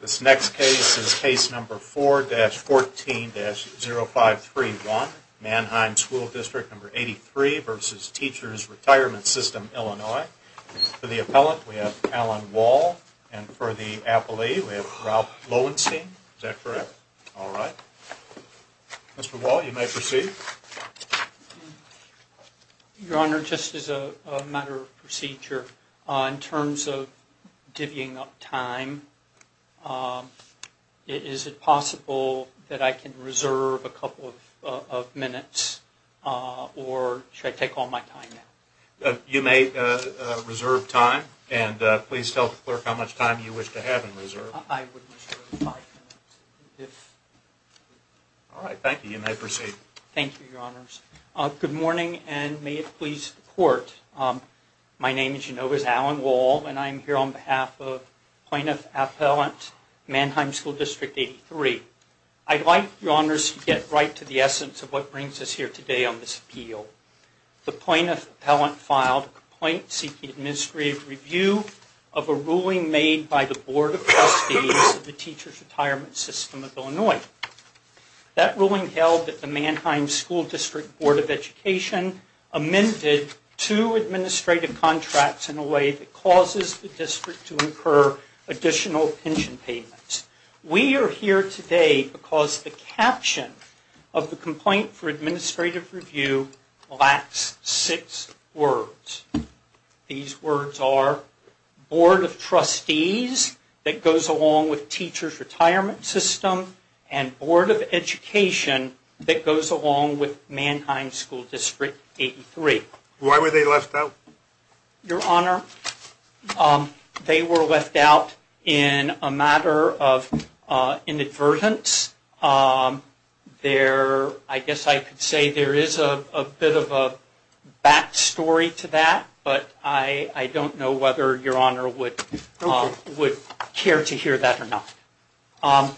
This next case is case number 4-14-0531, Mannheim School District number 83 v. Teachers' Retirement System, Illinois. For the appellant, we have Alan Wall, and for the appellee, we have Ralph Lowenstein. Is that correct? All right. Mr. Wall, you may proceed. Your Honor, just as a matter of procedure, in terms of divvying up time, is it possible that I can reserve a couple of minutes, or should I take all my time now? You may reserve time, and please tell the clerk how much time you wish to have in reserve. I would reserve five minutes. All right. Thank you. You may proceed. Thank you, Your Honors. Good morning, and may it please the Court, my name, as you know, is Alan Wall, and I am here on behalf of Plaintiff Appellant Mannheim School District 83. I'd like, Your Honors, to get right to the essence of what brings us here today on this appeal. The plaintiff appellant filed a complaint seeking administrative review of a ruling made by the Board of Trustees of the Teachers' Retirement System of Illinois. That ruling held that the Mannheim School District Board of Education amended two administrative contracts in a way that causes the district to incur additional pension payments. We are here today because the caption of the complaint for administrative review lacks six words. These words are Board of Trustees, that goes along with Teachers' Retirement System, and Board of Education, that goes along with Mannheim School District 83. Why were they left out? Your Honor, they were left out in a matter of inadvertence. There, I guess I could say there is a bit of a back story to that, but I don't know whether Your Honor would care to hear that or not.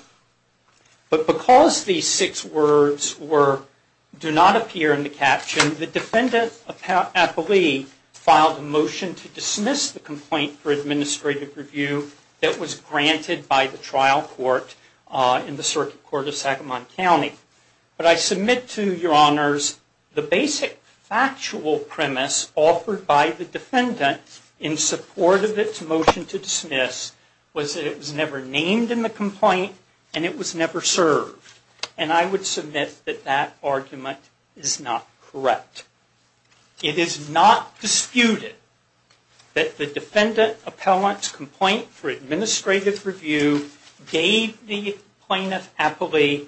But because these six words do not appear in the caption, the defendant appellee filed a motion to dismiss the complaint for administrative review that was granted by the trial court in the Circuit Court of Sacramento County. But I submit to Your Honors, the basic factual premise offered by the defendant in support of its motion to dismiss was that it was never named in the complaint and it was never served. And I would submit that that argument is not correct. It is not disputed that the defendant appellant's complaint for administrative review gave the plaintiff appellee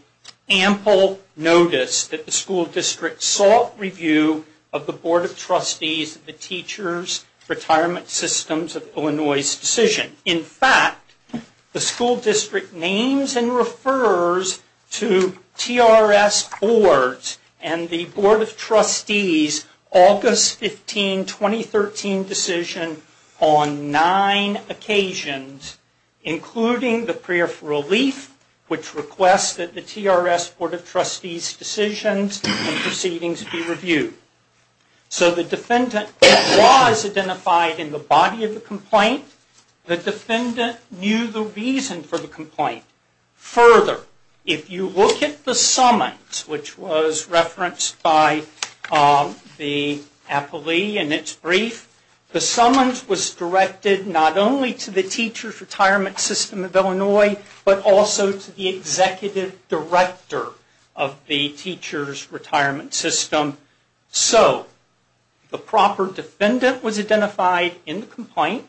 ample notice that the school district sought review of the Board of Trustees, the Teachers' Retirement Systems of Illinois' decision. In fact, the school district names and refers to TRS boards and the Board of Trustees' August 15, 2013 decision on nine occasions, including the prayer for relief, which requests that the TRS Board of Trustees' decisions and proceedings be reviewed. So the defendant was identified in the body of the complaint. The defendant knew the reason for the complaint. Further, if you look at the summons, which was referenced by the appellee in its brief, the summons was directed not only to the Teachers' Retirement System of Illinois, but also to the Executive Director of the Teachers' Retirement System. So, the proper defendant was identified in the complaint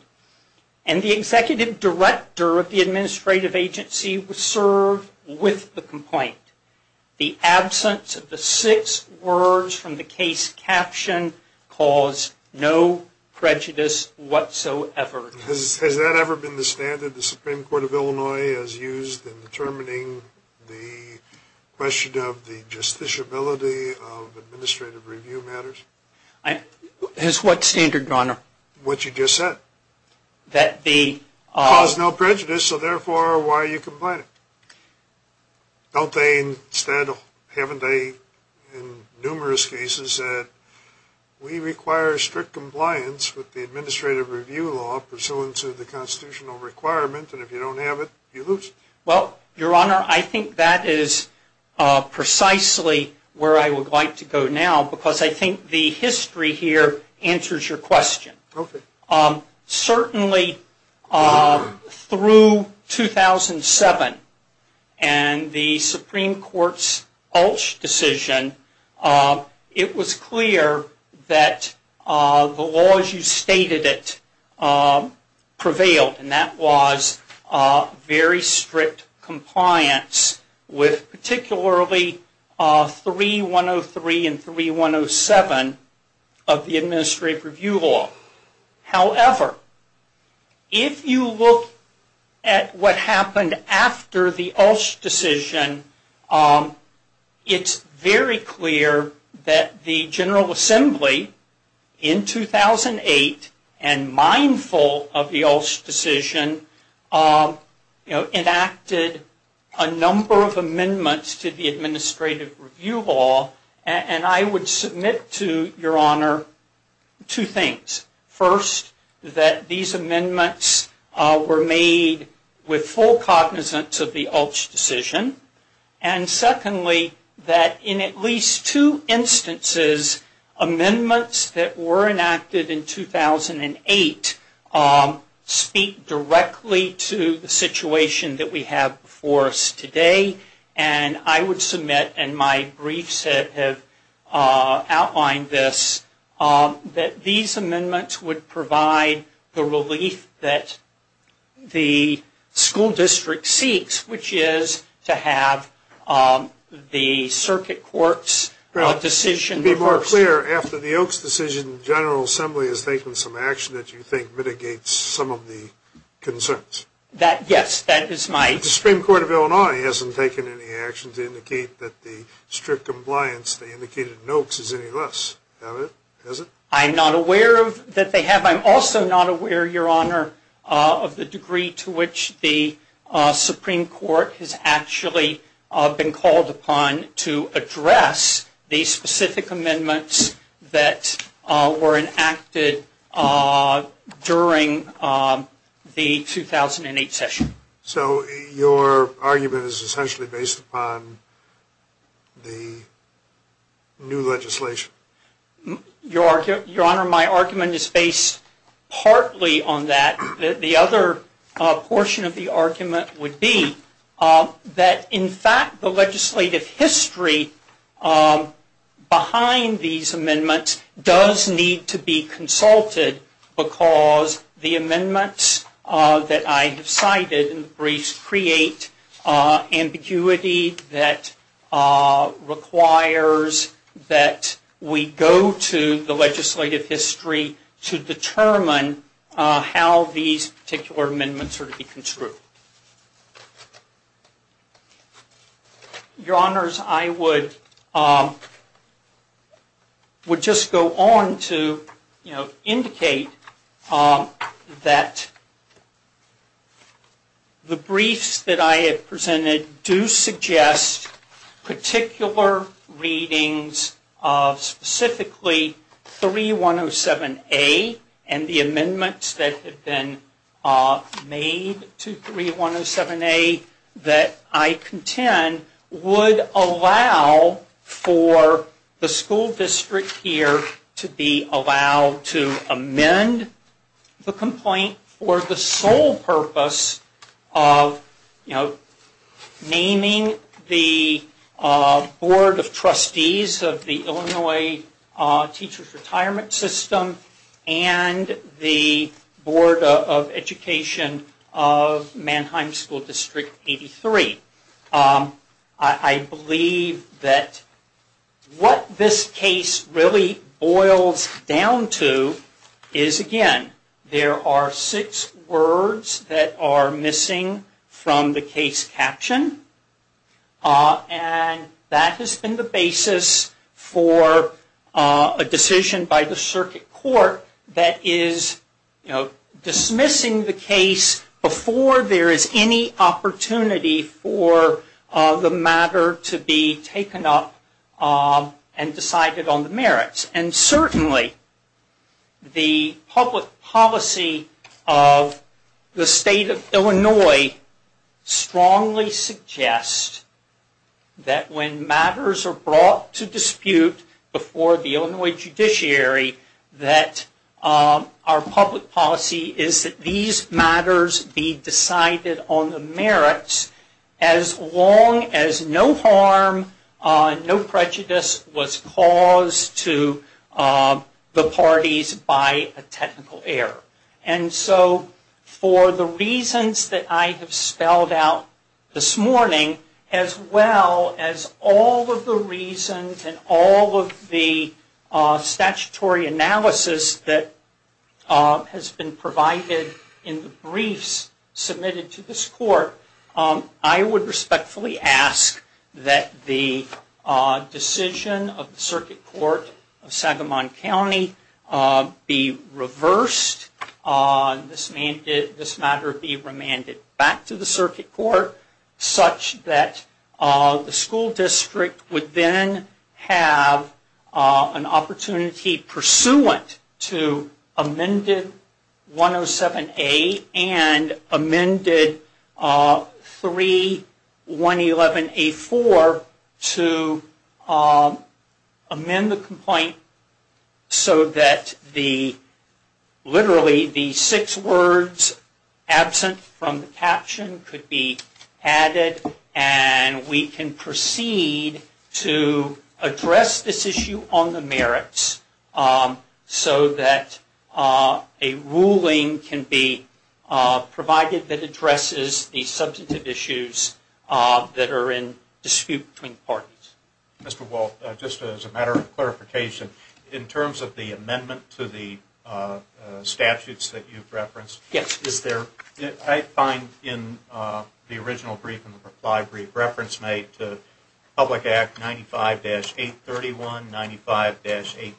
and the Executive Director of the administrative agency was served with the complaint. The absence of the six words from the case caption caused no prejudice whatsoever. Has that ever been the standard the Supreme Court of Illinois has used in determining the question of the justiciability of administrative review matters? As what standard, Your Honor? What you just said. That the... Caused no prejudice, so therefore, why are you complaining? Don't they, instead, haven't they in numerous cases said, we require strict compliance with the administrative review law pursuant to the constitutional requirement, and if you don't have it, you lose it? Well, Your Honor, I think that is precisely where I would like to go now, because I think the history here answers your question. Okay. Certainly, through 2007 and the Supreme Court's Ulsh decision, it was clear that the laws you stated prevailed, and that was very strict compliance with particularly 3103 and 3107 of the administrative review law. However, if you look at what happened after the Ulsh decision, it's very clear that the General Assembly, in 2008, and mindful of the Ulsh decision, enacted a number of amendments to the administrative review law, and I would submit to Your Honor two things. First, that these amendments were made with full cognizance of the Ulsh decision, and secondly, that in at least two instances, amendments that were enacted in 2008 speak directly to the situation that we have before us today, and I would submit, and my briefs have outlined this, that these amendments would provide the relief that the school district seeks, which is to have the circuit court's decision reversed. To be more clear, after the Oaks decision, the General Assembly has taken some action that you think mitigates some of the concerns? That, yes, that is my... I'm not aware that they have. I'm also not aware, Your Honor, of the degree to which the Supreme Court has actually been called upon to address the specific amendments that were enacted during the 2008 session. So your argument is essentially based upon the new legislation? Your Honor, my argument is based partly on that. The other portion of the argument would be that, in fact, the legislative history behind these amendments does need to be consulted because the amendments that I have cited in the briefs create ambiguity that requires that we go to the legislative history to determine how these particular amendments are to be construed. Your Honors, I would just go on to indicate that the briefs that I have presented do suggest particular readings of specifically 3107A and the amendments that have been made to 3107A that I contend would allow for the school district here to be allowed to amend the complaint for the sole purpose of, you know, naming the Board of Trustees of the Illinois Teachers Retirement System and the Board of Education of Mannheim School District 83. I believe that what this case really boils down to is, again, there are six words that are missing from the case caption. And that has been the basis for a decision by the Circuit Court that is, you know, dismissing the case before there is any opportunity for the matter to be taken up and decided on the merits. And certainly, the public policy of the State of Illinois strongly suggests that when matters are brought to dispute before the Illinois Judiciary that our public policy is that these matters be decided on the merits as long as no harm, no prejudice was caused to the parties by a technical error. And so, for the reasons that I have spelled out this morning, as well as all of the reasons and all of the statutory analysis that has been provided in the briefs submitted to this Court, I would respectfully ask that the decision of the Circuit Court of Sagamon County be reversed, this matter be remanded back to the Circuit Court such that the school district would then have an opportunity pursuant to amended 107A and amended 3111A4 to amend the complaint so that literally the six words absent from the caption could be added and we can proceed to address this issue on the merits. So that a ruling can be provided that addresses the substantive issues that are in dispute between parties. Mr. Walt, just as a matter of clarification, in terms of the amendment to the statutes that you've referenced, I find in the original brief and the reply brief reference made to Public Act 95-831, 95-821,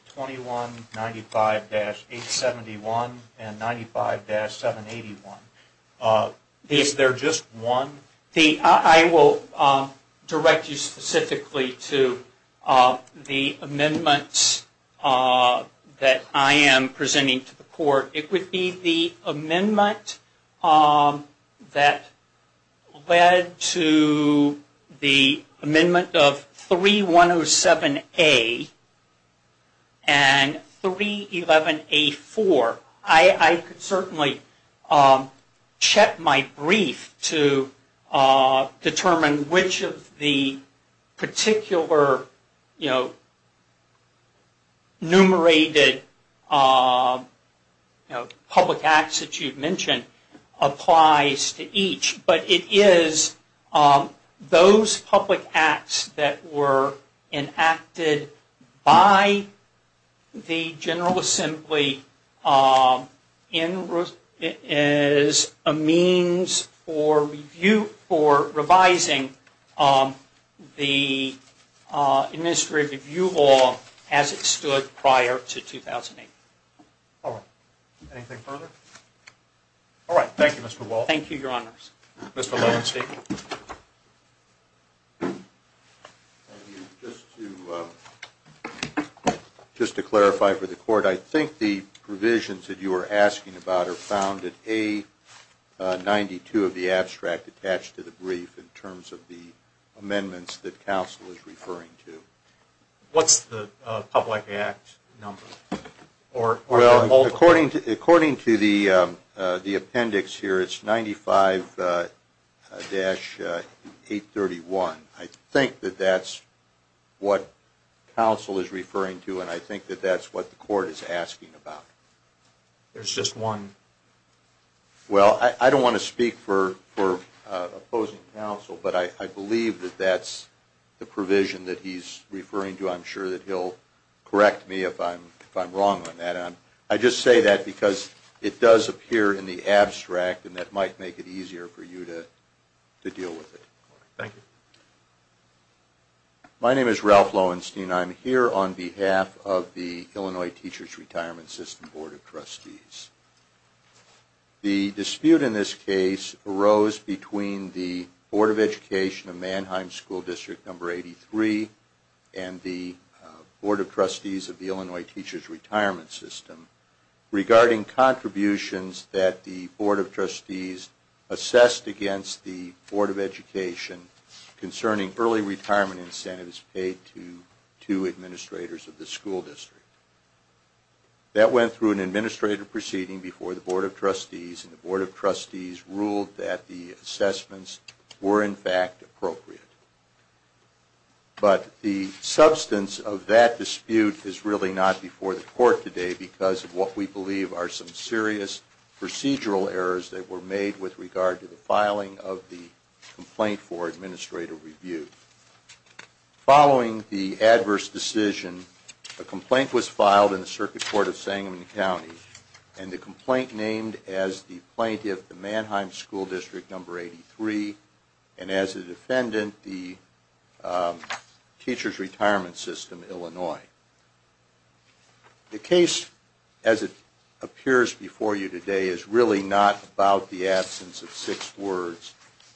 95-871, and 95-781, is there just one? I will direct you specifically to the amendments that I am presenting to the Court. It would be the amendment that led to the amendment of 3107A and 3111A4. I could certainly check my brief to determine which of the particular, you know, numerated public acts that you've mentioned applies to each, but it is those public acts that were enacted by the General Assembly as a means for revising the Administrative Review Law as it stood prior to 2008. All right. Anything further? All right. Thank you, Mr. Walt. Thank you, Your Honors. Mr. Lowenstein. Thank you. Just to clarify for the Court, I think the provisions that you are asking about are found in A92 of the abstract attached to the brief in terms of the amendments that counsel is referring to. What's the public act number? Well, according to the appendix here, it's 95-831. I think that that's what counsel is referring to, and I think that that's what the Court is asking about. There's just one? Well, I don't want to speak for opposing counsel, but I believe that that's the provision that he's referring to. I'm sure that he'll correct me if I'm wrong on that. I just say that because it does appear in the abstract, and that might make it easier for you to deal with it. Thank you. My name is Ralph Lowenstein. I'm here on behalf of the Illinois Teachers Retirement System Board of Trustees. The dispute in this case arose between the Board of Education of Mannheim School District No. 83 and the Board of Trustees of the Illinois Teachers Retirement System regarding contributions that the Board of Trustees assessed against the Board of Education concerning early retirement incentives paid to two administrators of the school district. That went through an administrative proceeding before the Board of Trustees, and the Board of Trustees ruled that the assessments were in fact appropriate. But the substance of that dispute is really not before the Court today because of what we believe are some serious procedural errors that were made with regard to the filing of the complaint for administrative review. Following the adverse decision, a complaint was filed in the Circuit Court of Sangamon County, and the complaint named as the plaintiff the Mannheim School District No. 83, and as a defendant, the Teachers Retirement System, Illinois. The case as it appears before you today is really not about the absence of six words.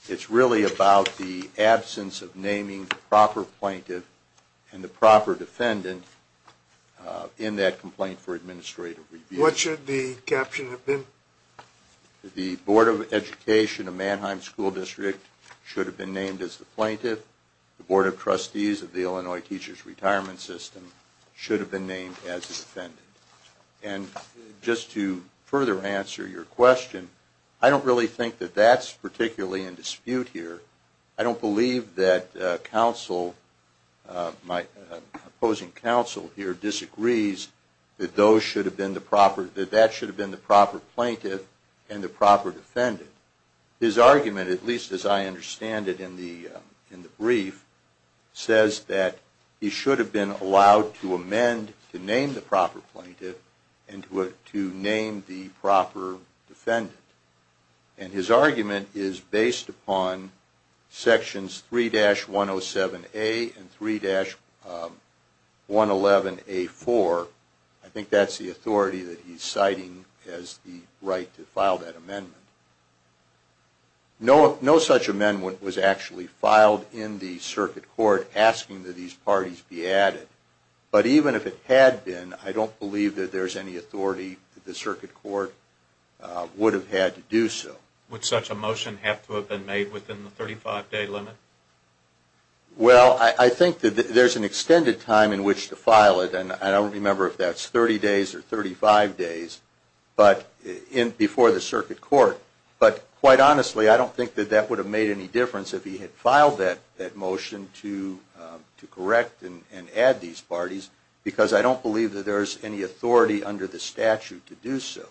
It's really about the absence of naming the proper plaintiff and the proper defendant in that complaint for administrative review. What should the caption have been? The Board of Education of Mannheim School District should have been named as the plaintiff. The Board of Trustees of the Illinois Teachers Retirement System should have been named as the defendant. And just to further answer your question, I don't really think that that's particularly in dispute here. I don't believe that my opposing counsel here disagrees that that should have been the proper plaintiff and the proper defendant. His argument, at least as I understand it in the brief, says that he should have been allowed to amend to name the proper plaintiff and to name the proper defendant. And his argument is based upon sections 3-107A and 3-111A4. I think that's the authority that he's citing as the right to file that amendment. No such amendment was actually filed in the Circuit Court asking that these parties be added. But even if it had been, I don't believe that there's any authority that the Circuit Court would have had to do so. Would such a motion have to have been made within the 35-day limit? Well, I think that there's an extended time in which to file it. And I don't remember if that's 30 days or 35 days before the Circuit Court. But quite honestly, I don't think that that would have made any difference if he had filed that motion to correct and add these parties, because I don't believe that there's any authority under the statute to do so.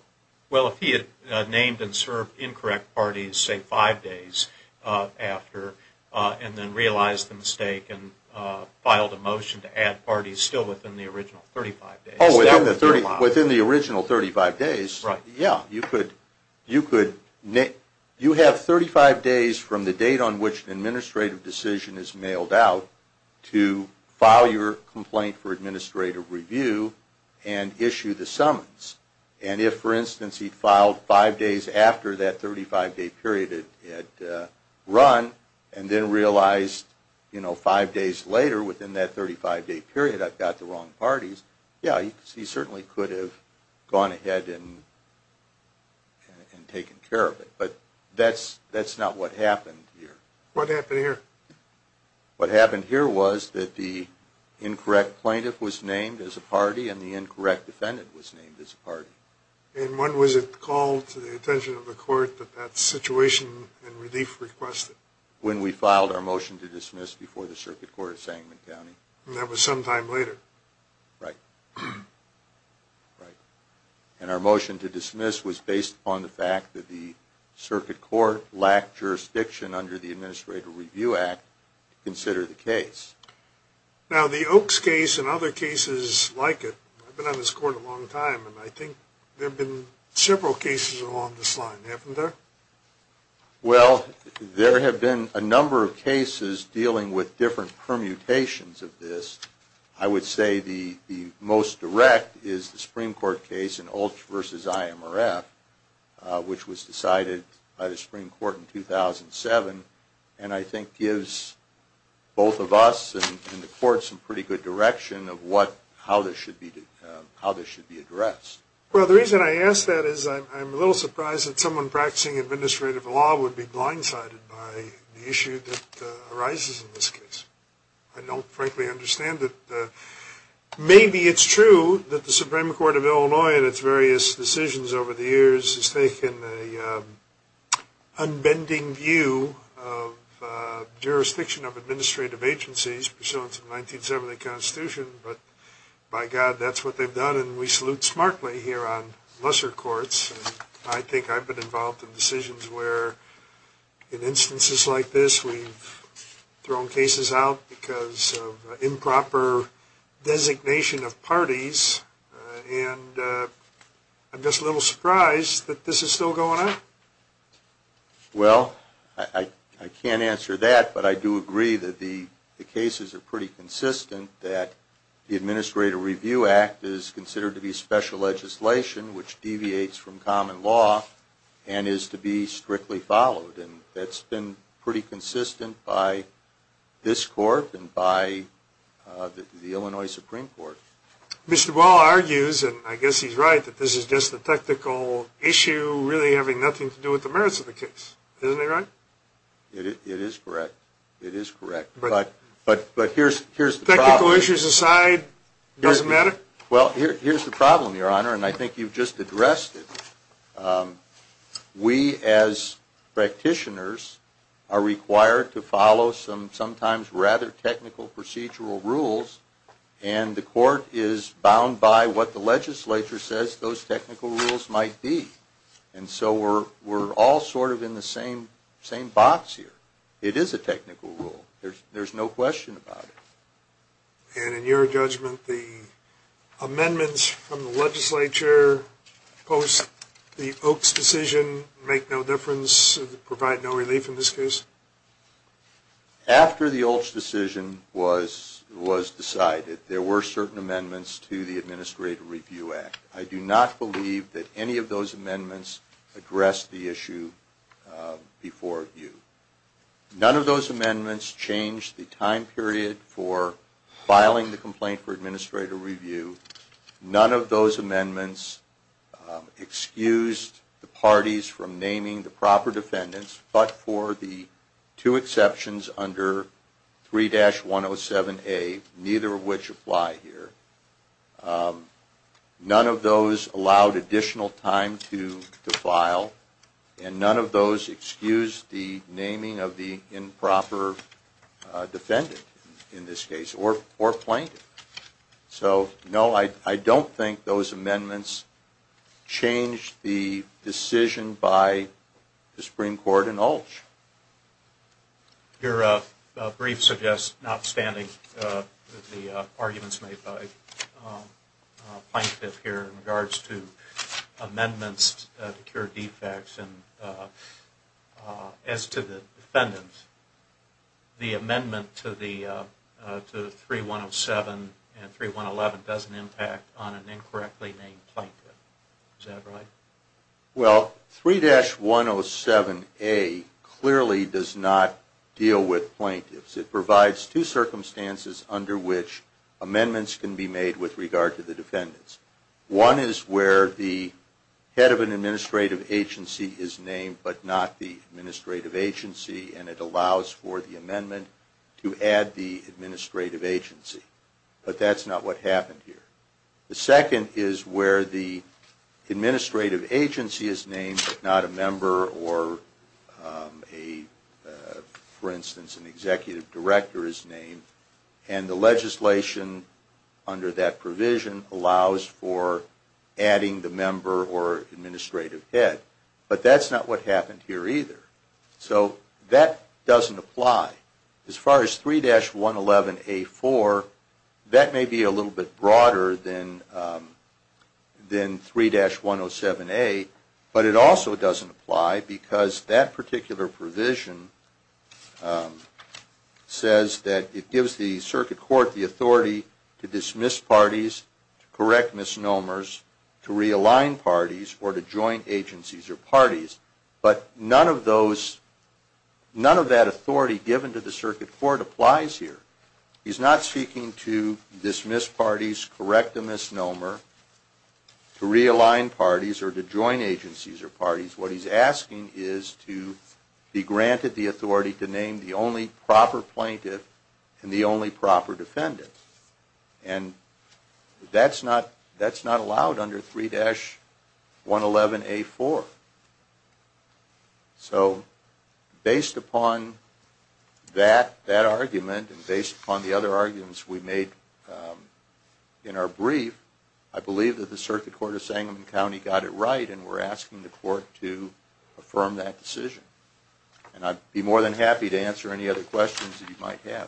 Well, if he had named and served incorrect parties, say, five days after, and then realized the mistake and filed a motion to add parties still within the original 35 days. Oh, within the original 35 days. You have 35 days from the date on which an administrative decision is mailed out to file your complaint for administrative review and issue the summons. And if, for instance, he filed five days after that 35-day period had run, and then realized five days later within that 35-day period I've got the wrong parties, yeah, he certainly could have gone ahead and taken care of it. But that's not what happened here. What happened here? What happened here was that the incorrect plaintiff was named as a party and the incorrect defendant was named as a party. And when was it called to the attention of the court that that situation and relief requested? When we filed our motion to dismiss before the Circuit Court of Sangamon County. And that was some time later. Right. Right. And our motion to dismiss was based on the fact that the Circuit Court lacked jurisdiction under the Administrative Review Act to consider the case. Now, the Oakes case and other cases like it, I've been on this court a long time, and I think there have been several cases along this line, haven't there? Well, there have been a number of cases dealing with different permutations of this. I would say the most direct is the Supreme Court case in Altsch v. IMRF, which was decided by the Supreme Court in 2007, and I think gives both of us and the court some pretty good direction of how this should be addressed. Well, the reason I ask that is I'm a little surprised that someone practicing administrative law would be blindsided by the issue that arises in this case. I don't frankly understand it. Maybe it's true that the Supreme Court of Illinois and its various decisions over the years has taken an unbending view of jurisdiction of administrative agencies pursuant to the 1970 Constitution, but by God, that's what they've done. And we salute smartly here on lesser courts. I think I've been involved in decisions where, in instances like this, we've thrown cases out because of improper designation of parties, and I'm just a little surprised that this is still going on. Well, I can't answer that, but I do agree that the cases are pretty consistent, that the Administrative Review Act is considered to be special legislation, which deviates from common law, and is to be strictly followed, and that's been pretty consistent by this court and by the Illinois Supreme Court. Mr. Wall argues, and I guess he's right, that this is just a technical issue really having nothing to do with the merits of the case. Isn't that right? It is correct. It is correct, but here's the problem. Technical issues aside, it doesn't matter? Well, here's the problem, Your Honor, and I think you've just addressed it. We, as practitioners, are required to follow some sometimes rather technical procedural rules, and the court is bound by what the legislature says those technical rules might be. And so we're all sort of in the same box here. It is a technical rule. There's no question about it. And in your judgment, the amendments from the legislature post the Oaks decision make no difference, provide no relief in this case? After the Oaks decision was decided, there were certain amendments to the Administrative Review Act. I do not believe that any of those amendments addressed the issue before you. None of those amendments changed the time period for filing the complaint for administrative review. None of those amendments excused the parties from naming the proper defendants, but for the two exceptions under 3-107A, neither of which apply here. None of those allowed additional time to file, and none of those excused the naming of the improper defendant in this case, or plaintiff. So, no, I don't think those amendments changed the decision by the Supreme Court and Altsch. Your brief suggests notwithstanding the arguments made by Plaintiff here in regards to amendments to cure defects, and as to the defendants, the amendment to 3-107 and 3-111 doesn't impact on an incorrectly named plaintiff. Is that right? Well, 3-107A clearly does not deal with plaintiffs. It provides two circumstances under which amendments can be made with regard to the defendants. One is where the head of an administrative agency is named, but not the administrative agency, and it allows for the amendment to add the administrative agency. But that's not what happened here. The second is where the administrative agency is named, but not a member or, for instance, an executive director is named, and the legislation under that provision allows for adding the member or administrative head, but that's not what happened here either. So that doesn't apply. As far as 3-111A4, that may be a little bit broader than 3-107A, but it also doesn't apply because that particular provision says that it gives the Circuit Court the authority to dismiss parties, to correct misnomers, to realign parties, or to join agencies or parties. But none of that authority given to the Circuit Court applies here. He's not speaking to dismiss parties, correct a misnomer, to realign parties, or to join agencies or parties. What he's asking is to be granted the authority to name the only proper plaintiff and the only proper defendant, and that's not allowed under 3-111A4. So based upon that argument and based upon the other arguments we made in our brief, I believe that the Circuit Court of Sangamon County got it right and we're asking the Court to affirm that decision. And I'd be more than happy to answer any other questions that you might have.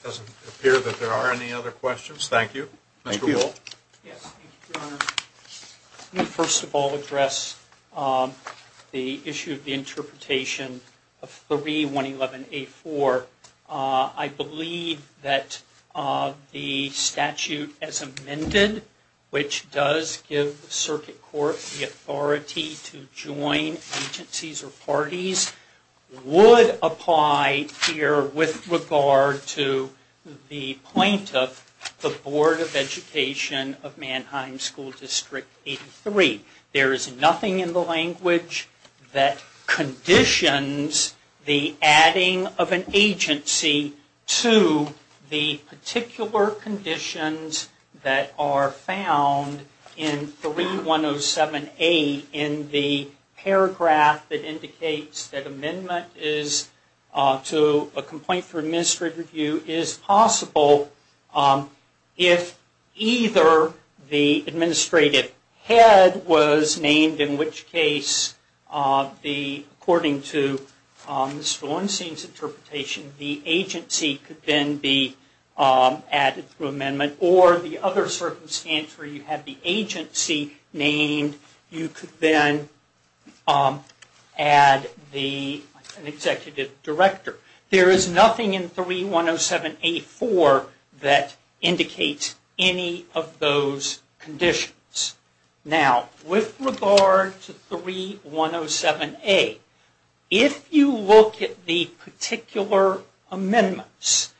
It doesn't appear that there are any other questions. Thank you. Thank you. Yes, thank you, Your Honor. Let me first of all address the issue of the interpretation of 3-111A4. I believe that the statute as amended, which does give the provision of education of Mannheim School District 83, there is nothing in the language that conditions the adding of an agency to the particular conditions that are found in 3-107A in the paragraph that indicates that amendment to a complaint for administrative review is possible if either the administrative head was named, in which case, according to Ms. Valencien's interpretation, the agency could then be added through amendment, or the other circumstance where you have the agency named, you could then add an executive director. There is nothing in 3-107A4 that indicates any of those conditions. Now, with regard to 3-107A, if you look at the particular amendments,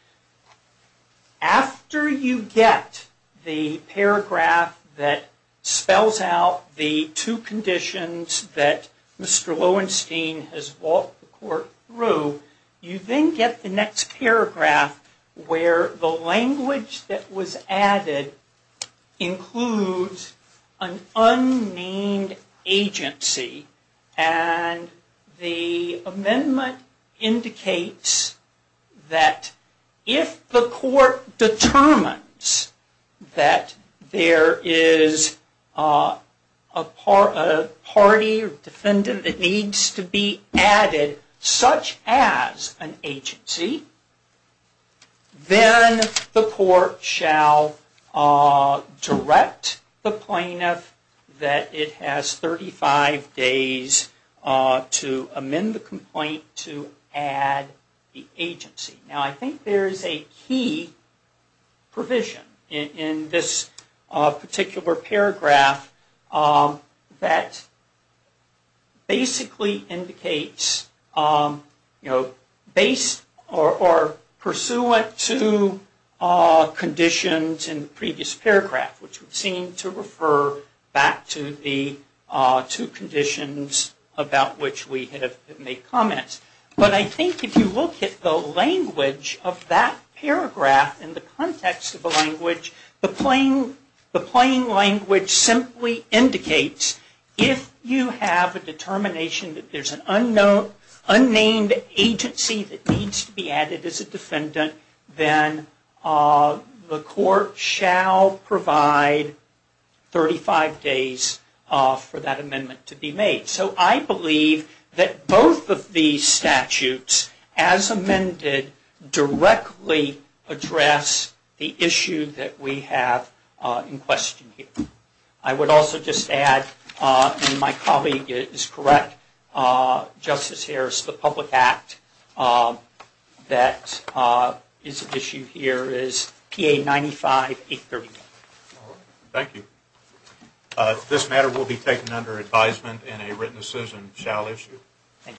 after you get the paragraph that spells out the two conditions that Mr. Lowenstein has walked the Court through, you then get the next paragraph where the language that was added includes an unnamed agency, and the amendment indicates that if the Court determines that there is a party or defendant that needs to be added such as an agency, then the Court shall direct the plaintiff that it has 35 days to amend the complaint to add the agency. Now, I think there is a key provision in this particular paragraph that basically indicates, or pursuant to conditions in the previous paragraph, which would seem to refer back to the two conditions about which we have made comments, but I think if you look at the language of that paragraph in the context of the language, the plain language simply indicates if you have a determination that there is an unknown or unnamed agency that needs to be added as a defendant, then the Court shall provide 35 days for that amendment to be made. So I believe that both of these statutes, as amended, directly address the issue that we have in question here. I would also just add, and my colleague is correct, Justice Harris, the public act that is at issue here is PA 95-831. Thank you. This matter will be taken under advisement and a written decision shall issue.